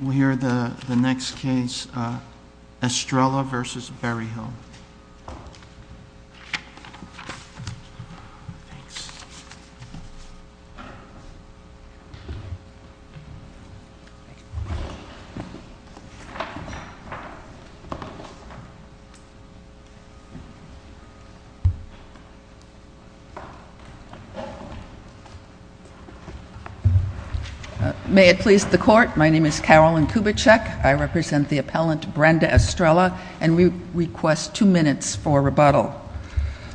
We'll hear the next case, Estrella v. Berryhill. May it please the Court, my name is Carolyn Kubitschek, I represent the appellant Brenda Estrella and we request two minutes for rebuttal.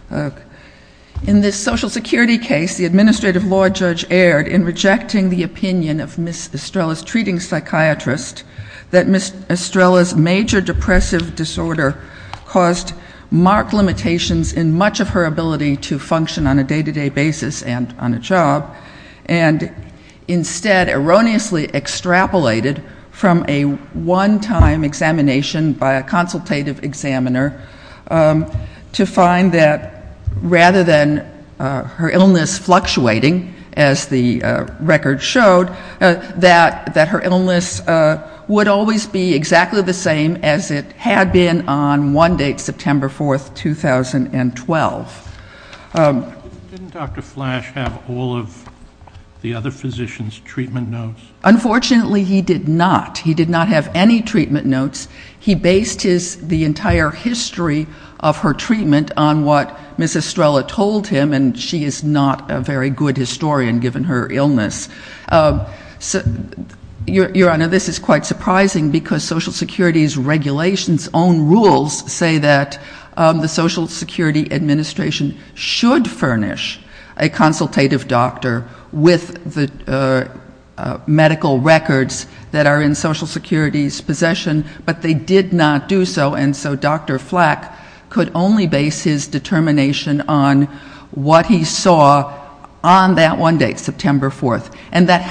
In this Social Security case, the Administrative Law Judge erred in rejecting the opinion of Ms. Estrella's treating psychiatrist that Ms. Estrella's major depressive disorder caused marked limitations in much of her ability to function on a day-to-day basis and on a examiner to find that rather than her illness fluctuating, as the record showed, that her illness would always be exactly the same as it had been on one date, September 4th, 2012. Didn't Dr. Flash have all of the other physicians' treatment notes? Unfortunately, he did not. He did not have any treatment notes. He based the entire history of her treatment on what Ms. Estrella told him and she is not a very good historian given her illness. Your Honor, this is quite surprising because Social Security's regulations own rules say that the Social Security Administration should furnish a consultative doctor with the medical records that are in Social Security's possession, but they did not do so and so Dr. Flack could only base his determination on what he saw on that one date, September 4th, and that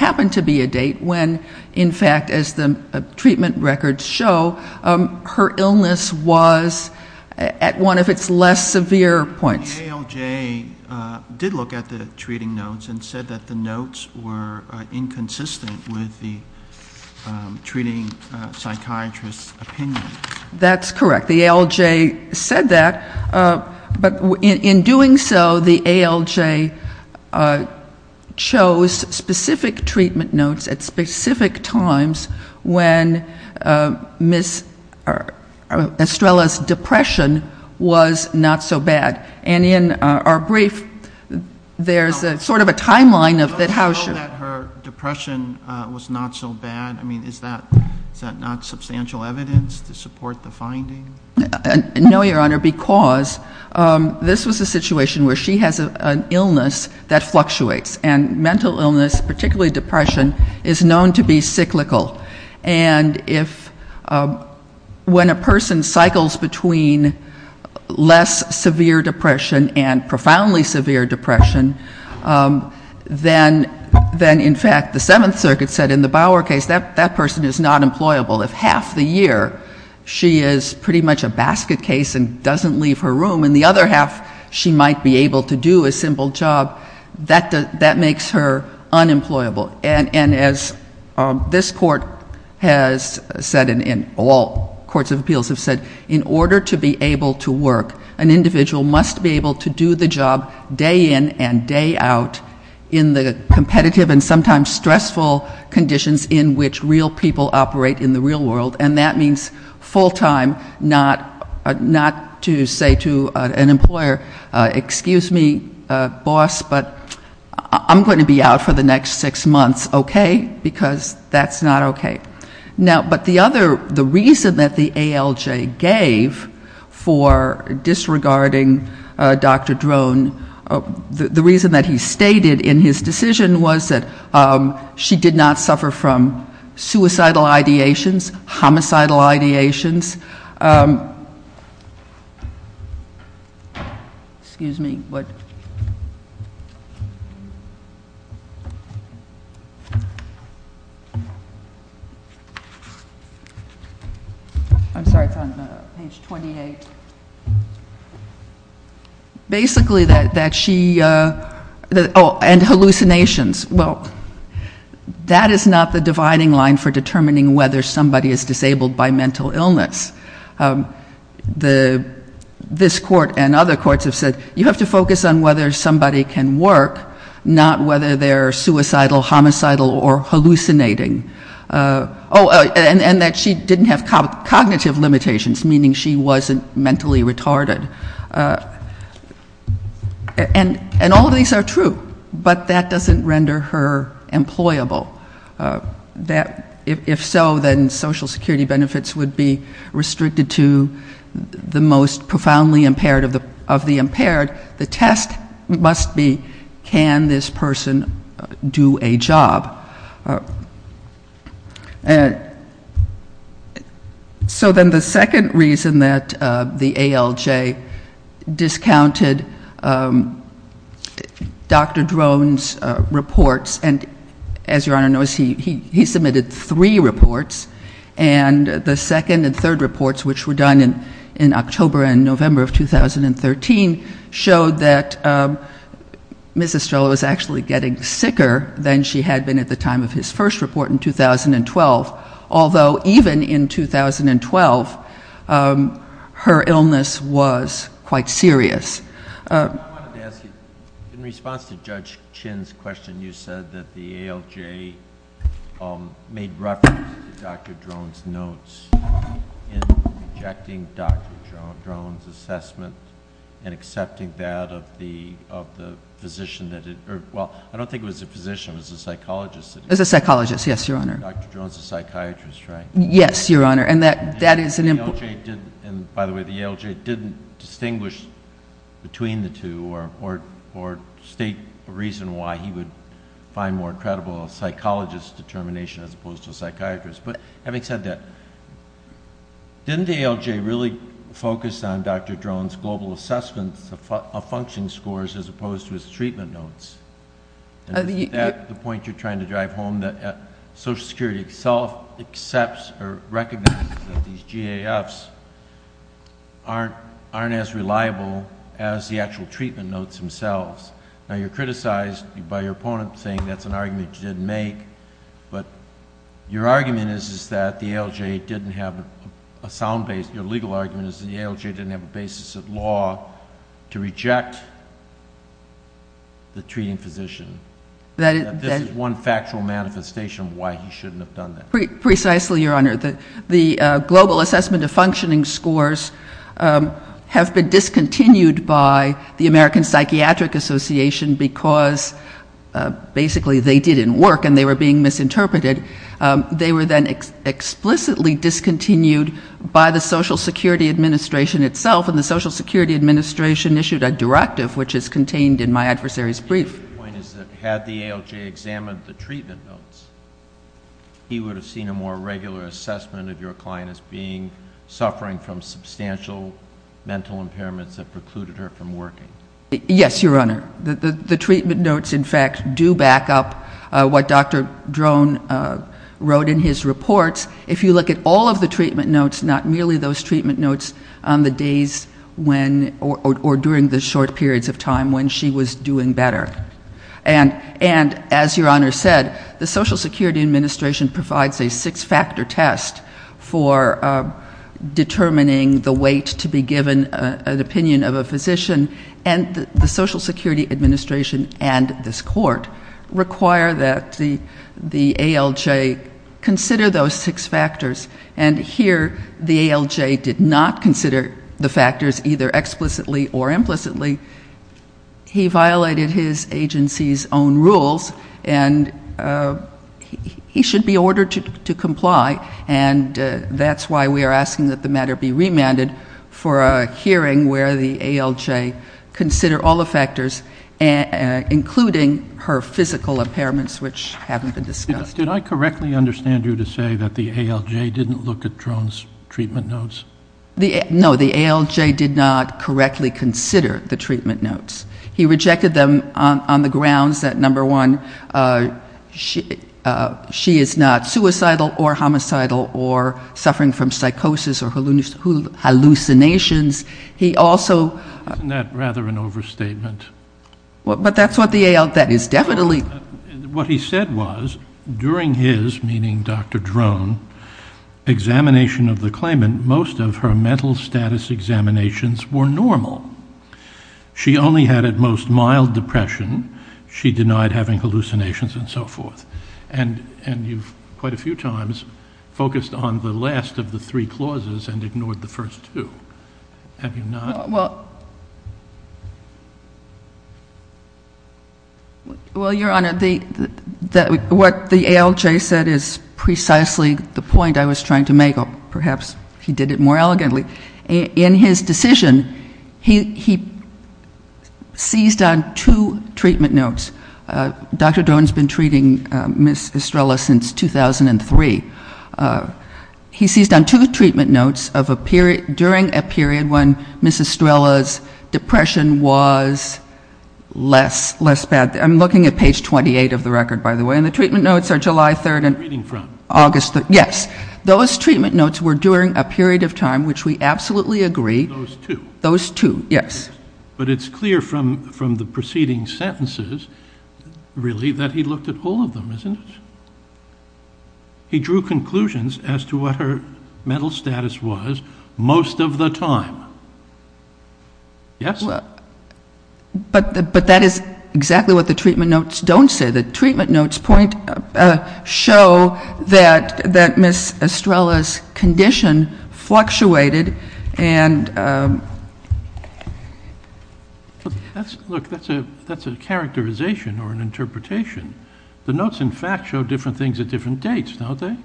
was at one of its less severe points. The ALJ did look at the treating notes and said that the notes were inconsistent with the treating psychiatrist's opinion. That's correct. The ALJ said that, but in doing so, the ALJ chose specific treatment notes at specific times when Ms. Estrella's depression was not so bad. And in our brief, there's sort of a timeline of how she Did you know that her depression was not so bad? I mean, is that not substantial evidence to support the finding? No, Your Honor, because this was a situation where she has an illness that fluctuates and mental illness, particularly depression, is known to be cyclical and if when a person cycles between less severe depression and profoundly severe depression, then in fact the Seventh Circuit said in the Bauer case that that person is not employable. If half the year she is pretty much a basket case and doesn't leave her room, in the other half, she might be able to do a simple job, that makes her unemployable. And as this Court has said and all courts of appeals have said, in order to be able to work, an individual must be able to do the job day in and day out in the competitive and sometimes stressful conditions in which real people operate in the real world. And that means full-time, not to say to an employer, excuse me, boss, but I'm going to be out for the next six months, okay? Because that's not okay. Now, but the other, the reason that the ALJ gave for disregarding Dr. Drone, the reason that he stated in his decision was that she did not suffer from suicidal ideations, homicidal ideations, excuse me, what? I'm sorry, it's on page 28. Basically, that she, oh, and hallucinations, well, that is not the dividing line for determining whether somebody is disabled by mental illness. This Court and other courts have said, you have to focus on whether somebody can work, not whether they're suicidal, homicidal, or hallucinating. Oh, and that she didn't have cognitive limitations, meaning she wasn't mentally retarded. And all of these are true, but that doesn't render her employable. That, if so, then Social Security benefits would be restricted to the most profoundly impaired of the impaired. The test must be, can this person do a job? So then the second reason that the ALJ discounted Dr. Drone's reports, and as Your Honor knows, he submitted three reports. And the second and third reports, which were done in October and November of 2013, showed that Ms. Estrella was actually getting sicker than she had been at the time of his first report in 2012. Although, even in 2012, her illness was quite serious. I wanted to ask you, in response to Judge Chin's question, you said that the ALJ made reference to Dr. Drone's notes in rejecting Dr. Drone's assessment and accepting that of the physician that it, well, I don't think it was a physician, it was a psychologist that- It was a psychologist, yes, Your Honor. Dr. Drone's a psychiatrist, right? Yes, Your Honor, and that is an important- And by the way, the ALJ didn't distinguish between the two or state a reason why he would find more credible a psychologist's determination as opposed to a psychiatrist. But having said that, didn't the ALJ really focus on Dr. Drone's global assessments of function scores as opposed to his treatment notes? And isn't that the point you're trying to drive home, that Social Security itself accepts or recognizes that these GAFs aren't as reliable as the actual treatment notes themselves? Now, you're criticized by your opponent, saying that's an argument you didn't make, but your argument is that the ALJ didn't have a sound base, your legal argument is that the ALJ didn't have a basis of law to reject the treating physician. This is one factual manifestation of why he shouldn't have done that. Precisely, Your Honor, the global assessment of functioning scores have been discontinued by the American Psychiatric Association because basically they didn't work and they were being misinterpreted. They were then explicitly discontinued by the Social Security Administration itself, and the Social Security Administration issued a directive which is contained in my adversary's brief. My point is that had the ALJ examined the treatment notes, he would have seen a more regular assessment of your client as being suffering from substantial mental impairments that precluded her from working. Yes, Your Honor. The treatment notes, in fact, do back up what Dr. Drone wrote in his reports. If you look at all of the treatment notes, not merely those treatment notes on the days when or during the short periods of time when she was doing better. And as Your Honor said, the Social Security Administration provides a six-factor test for determining the weight to be given an opinion of a physician, and the Social Security Administration and this court require that the ALJ consider those six factors. And here, the ALJ did not consider the factors either explicitly or implicitly. He violated his agency's own rules and he should be ordered to comply. And that's why we are asking that the matter be remanded for a hearing where the ALJ consider all the factors, including her physical impairments, which haven't been discussed. Did I correctly understand you to say that the ALJ didn't look at Drone's treatment notes? No, the ALJ did not correctly consider the treatment notes. He rejected them on the grounds that, number one, she is not suicidal or homicidal or suffering from psychosis or hallucinations. He also... Isn't that rather an overstatement? But that's what the ALJ is definitely... What he said was, during his, meaning Dr. Drone, examination of the claimant, most of her mental status examinations were normal. She only had at most mild depression. She denied having hallucinations and so forth. And you've, quite a few times, focused on the last of the three clauses and ignored the first two. Have you not? Well... Well, Your Honor, what the ALJ said is precisely the point I was trying to make. Perhaps he did it more elegantly. In his decision, he seized on two treatment notes. Dr. Drone's been treating Ms. Estrella since 2003. He seized on two treatment notes during a period when Ms. Estrella's depression was less bad. I'm looking at page 28 of the record, by the way. And the treatment notes are July 3rd and August 3rd. Yes. Those treatment notes were during a period of time which we absolutely agree... Those two. Those two, yes. But it's clear from the preceding sentences, really, that he looked at all of them, isn't it? He drew conclusions as to what her mental status was most of the time. Yes? But that is exactly what the treatment notes don't say. The treatment notes show that Ms. Estrella's condition fluctuated and... Look, that's a characterization or an interpretation. The notes, in fact, show different things at different dates, don't they?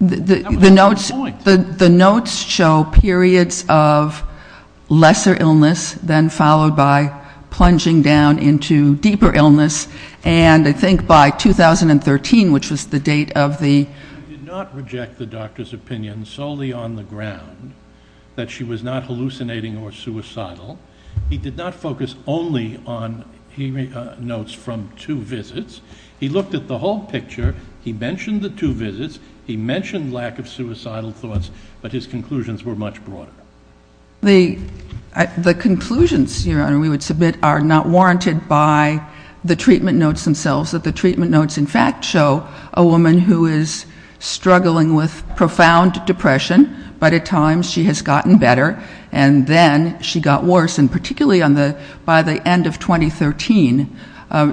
That was the point. The notes show periods of lesser illness, then followed by plunging down into deeper illness. And I think by 2013, which was the date of the... He did not reject the doctor's opinion solely on the ground that she was not hallucinating or suicidal. He did not focus only on notes from two visits. He looked at the whole picture. He mentioned the two visits. He mentioned lack of suicidal thoughts, but his conclusions were much broader. The conclusions, Your Honor, we would submit are not warranted by the treatment notes themselves. The treatment notes, in fact, show a woman who is struggling with profound depression, but at times she has gotten better, and then she got worse. And particularly by the end of 2013,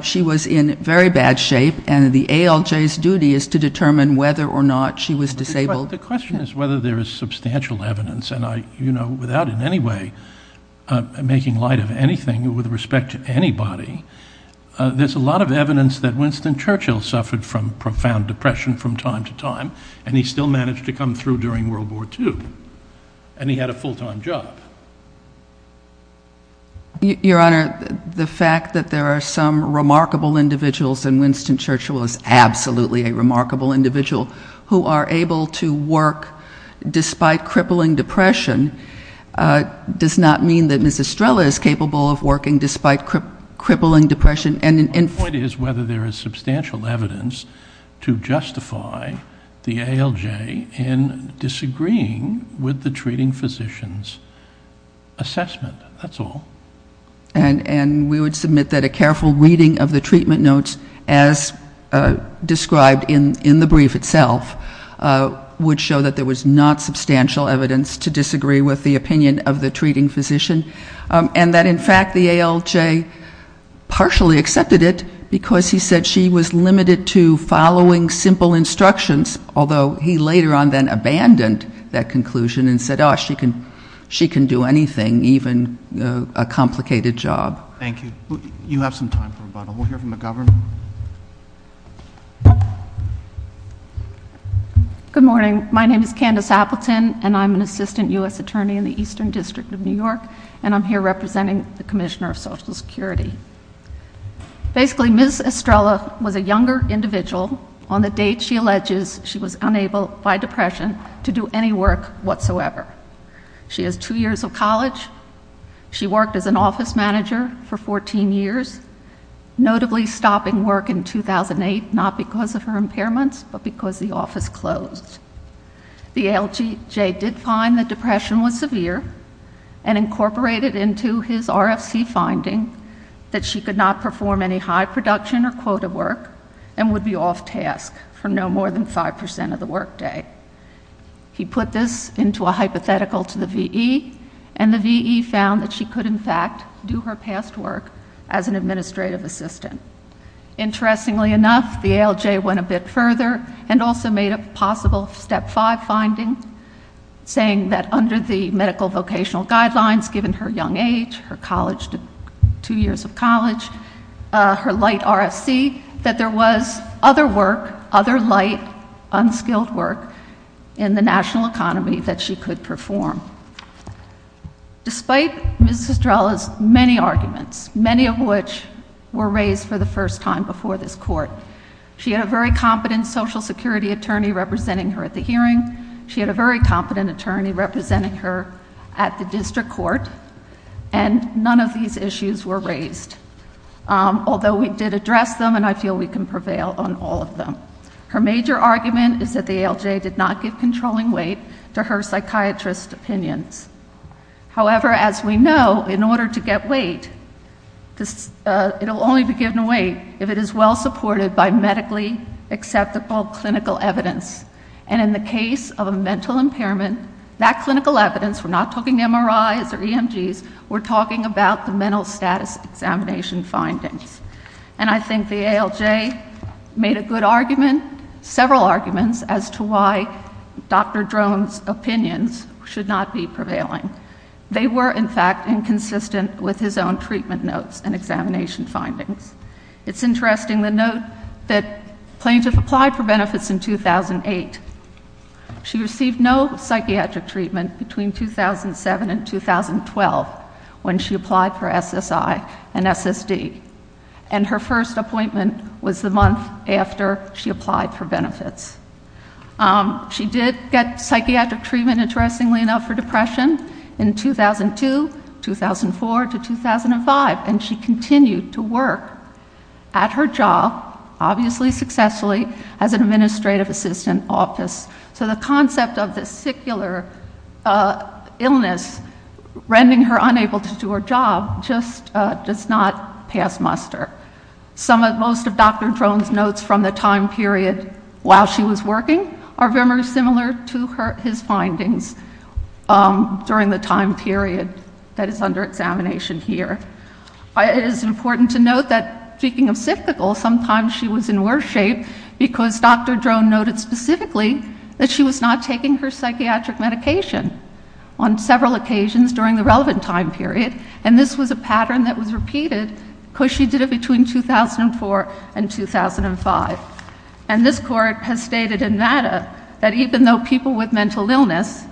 she was in very bad shape. And the ALJ's duty is to determine whether or not she was disabled. The question is whether there is substantial evidence. And I, you know, without in any way making light of anything with respect to anybody, there's a lot of evidence that Winston Churchill suffered from profound depression from time to time, and he still managed to come through during World War II. And he had a full-time job. Your Honor, the fact that there are some remarkable individuals, and Winston Churchill is absolutely a remarkable individual, who are able to work despite crippling depression, does not mean that Ms. Estrella is capable of working despite crippling depression. My point is whether there is substantial evidence to justify the ALJ in disagreeing with the treating physician's assessment. That's all. And we would submit that a careful reading of the treatment notes, as described in the brief itself, would show that there was not substantial evidence to disagree with the opinion of the treating physician. And that, in fact, the ALJ partially accepted it because he said she was limited to following simple instructions, although he later on then abandoned that conclusion and said, oh, she can do anything, even a complicated job. Thank you. You have some time for rebuttal. We'll hear from the Governor. Good morning. My name is Candace Appleton, and I'm an Assistant U.S. Attorney in the Eastern District of New York, and I'm here representing the Commissioner of Social Security. Basically, Ms. Estrella was a younger individual on the date she alleges she was unable, by depression, to do any work whatsoever. She has two years of college. She worked as an office manager for 14 years, notably stopping work in 2008, not because of her impairments, but because the office closed. The ALJ did find that depression was severe and incorporated into his RFC finding that she could not perform any high production or quota work and would be off task for no more than 5% of the workday. He put this into a hypothetical to the VE, and the VE found that she could, in fact, do her past work as an administrative assistant. Interestingly enough, the ALJ went a bit further and also made a possible Step 5 finding, saying that under the medical vocational guidelines, given her young age, her two years of college, her light RFC, that there was other work, other light, unskilled work in the national economy that she could perform. Despite Ms. Estrella's many arguments, many of which were raised for the first time before this court, she had a very competent Social Security attorney representing her at the hearing. She had a very competent attorney representing her at the district court, and none of these issues were raised. Although we did address them, and I feel we can prevail on all of them. Her major argument is that the ALJ did not give controlling weight to her psychiatrist's opinions. However, as we know, in order to get weight, it'll only be given weight if it is well supported by medically acceptable clinical evidence. And in the case of a mental impairment, that clinical evidence, we're not talking MRIs or EMGs, we're talking about the mental status examination findings. And I think the ALJ made a good argument, several arguments, as to why Dr. Drone's opinions should not be prevailing. They were, in fact, inconsistent with his own treatment notes and examination findings. It's interesting the note that Plaintiff applied for benefits in 2008. She received no psychiatric treatment between 2007 and 2012 when she applied for SSI and SSD. And her first appointment was the month after she applied for benefits. She did get psychiatric treatment, interestingly enough, for depression in 2002, 2004 to 2005. And she continued to work at her job, obviously successfully, as an administrative assistant office. So the concept of this secular illness, rending her unable to do her job, just does not pass muster. Some of, most of Dr. Drone's notes from the time period while she was working are very similar to his findings during the time period that is under examination here. It is important to note that, speaking of cyclical, sometimes she was in worse shape because Dr. Drone noted specifically that she was not taking her psychiatric medication on several occasions during the relevant time period. And this was a pattern that was repeated because she did it between 2004 and 2005. And this court has stated in MATA that even though people with mental illness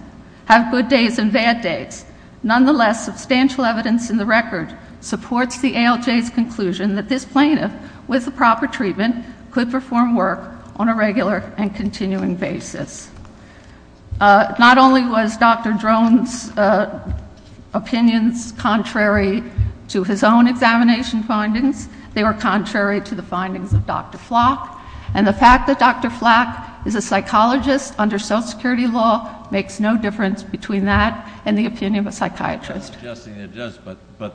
have good days and bad days, nonetheless, substantial evidence in the record supports the ALJ's conclusion that this plaintiff, with the proper treatment, could perform work on a regular and continuing basis. Not only was Dr. Drone's opinions contrary to his own examination findings, they were contrary to the findings of Dr. Flack. And the fact that Dr. Flack is a psychologist under social security law makes no difference between that and the opinion of a psychiatrist. I'm not suggesting it does, but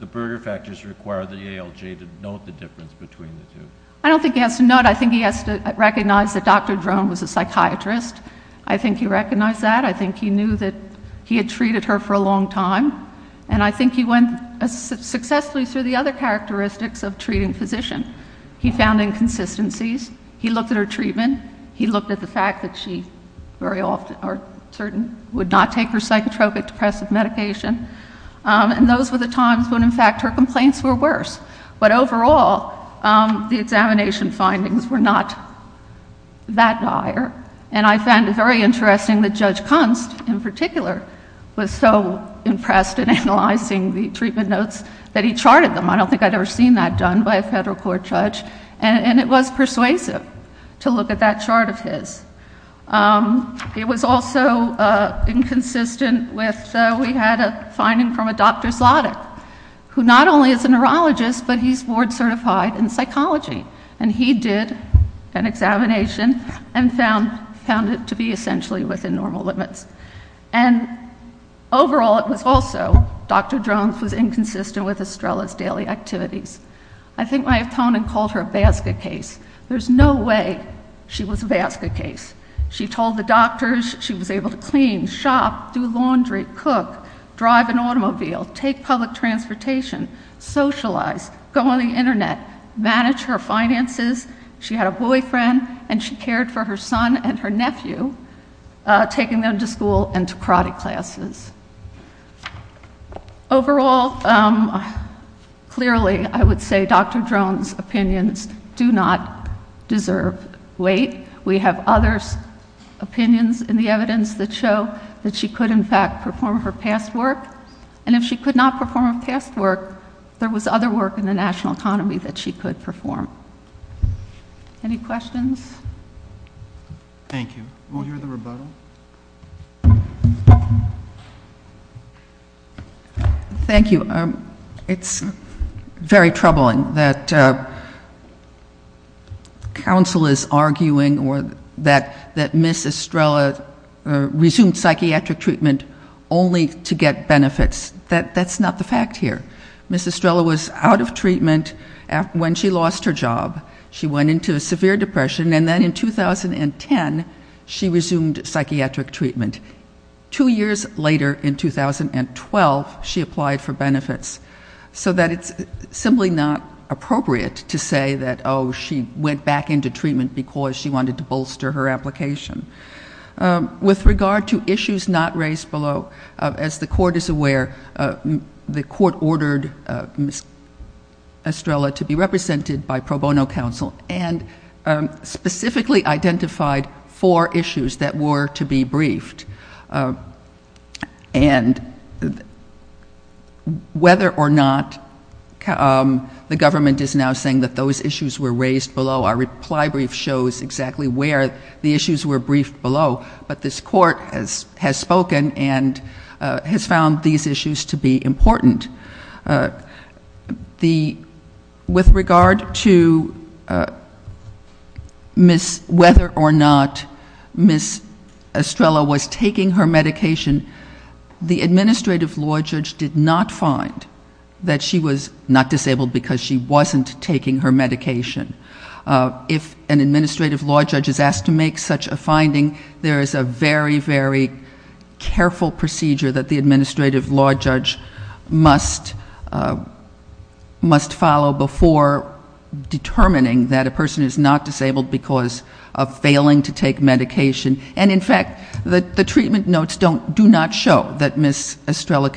the Bruger factors require the ALJ to note the difference between the two. I don't think he has to note. I think he has to recognize that Dr. Drone was a psychiatrist. I think he recognized that. I think he knew that he had treated her for a long time. And I think he went successfully through the other characteristics of treating physician. He found inconsistencies. He looked at her treatment. He looked at the fact that she very often, or certain, would not take her psychotropic depressive medication. And those were the times when in fact her complaints were worse. But overall, the examination findings were not that dire. And I found it very interesting that Judge Kunst, in particular, was so impressed in analyzing the treatment notes that he charted them. I don't think I'd ever seen that done by a federal court judge. And it was persuasive to look at that chart of his. It was also inconsistent with, we had a finding from a Dr. Zlotyk, who not only is a neurologist, but he's board certified in psychology. And he did an examination and found it to be essentially within normal limits. And overall, it was also, Dr. Drone was inconsistent with Estrella's daily activities. I think my opponent called her a basket case. There's no way she was a basket case. She told the doctors she was able to clean, shop, do laundry, cook, drive an automobile, take public transportation, socialize, go on the internet, manage her finances. She had a boyfriend, and she cared for her son and her nephew, taking them to school and to karate classes. Overall, clearly, I would say Dr. Drone's opinions do not deserve weight. We have other opinions in the evidence that show that she could, in fact, perform her past work. And if she could not perform her past work, there was other work in the national economy that she could perform. Any questions? Thank you. We'll hear the rebuttal. Thank you. It's very troubling that counsel is arguing that Ms. Estrella resumed psychiatric treatment only to get benefits. That's not the fact here. Ms. Estrella was out of treatment when she lost her job. She went into a severe depression, and then in 2010, she resumed psychiatric treatment. Two years later, in 2012, she applied for benefits, so that it's simply not appropriate to say that, oh, she went back into treatment because she wanted to bolster her application. With regard to issues not raised below, as the court is aware, the court ordered Ms. Estrella to be represented by pro bono counsel and specifically identified four issues that were to be briefed. And whether or not the government is now saying that those issues were raised below, our reply brief shows exactly where the issues were briefed. But this court has spoken and has found these issues to be important. With regard to whether or not Ms. Estrella was taking her medication, the administrative law judge did not find that she was not disabled because she wasn't taking her medication. If an administrative law judge is asked to make such a finding, there is a very, very careful procedure that the administrative law judge must follow before determining that a person is not disabled because of failing to take medication. And in fact, the treatment notes do not show that Ms. Estrella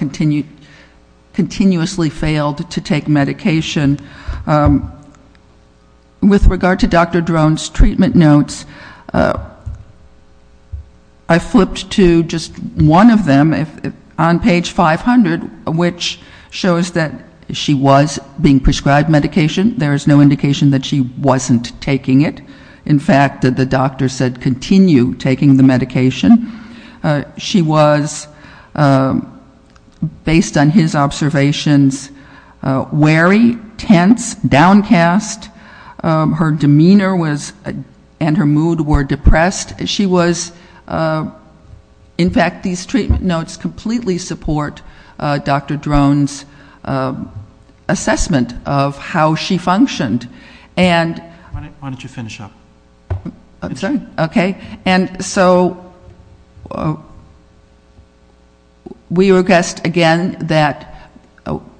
continuously failed to take medication. With regard to Dr. Drone's treatment notes, I flipped to just one of them on page 500, which shows that she was being prescribed medication. There is no indication that she wasn't taking it. In fact, the doctor said continue taking the medication. She was, based on his observations, wary, tense, downcast. Her demeanor and her mood were depressed. In fact, these treatment notes completely support Dr. Drone's assessment of how she functioned. Why don't you finish up? I'm sorry. Okay. And so we request again that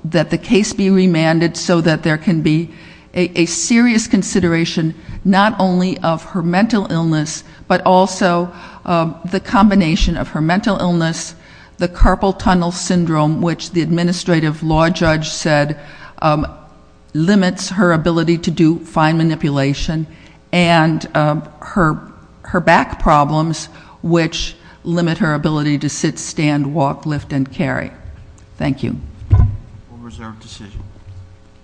the case be remanded so that there can be a serious consideration not only of her mental illness, but also the combination of her mental illness, the carpal tunnel syndrome, which the administrative law judge said limits her ability to do fine manipulation, and her back problems, which limit her ability to sit, stand, walk, lift, and carry. Thank you. All reserved to city.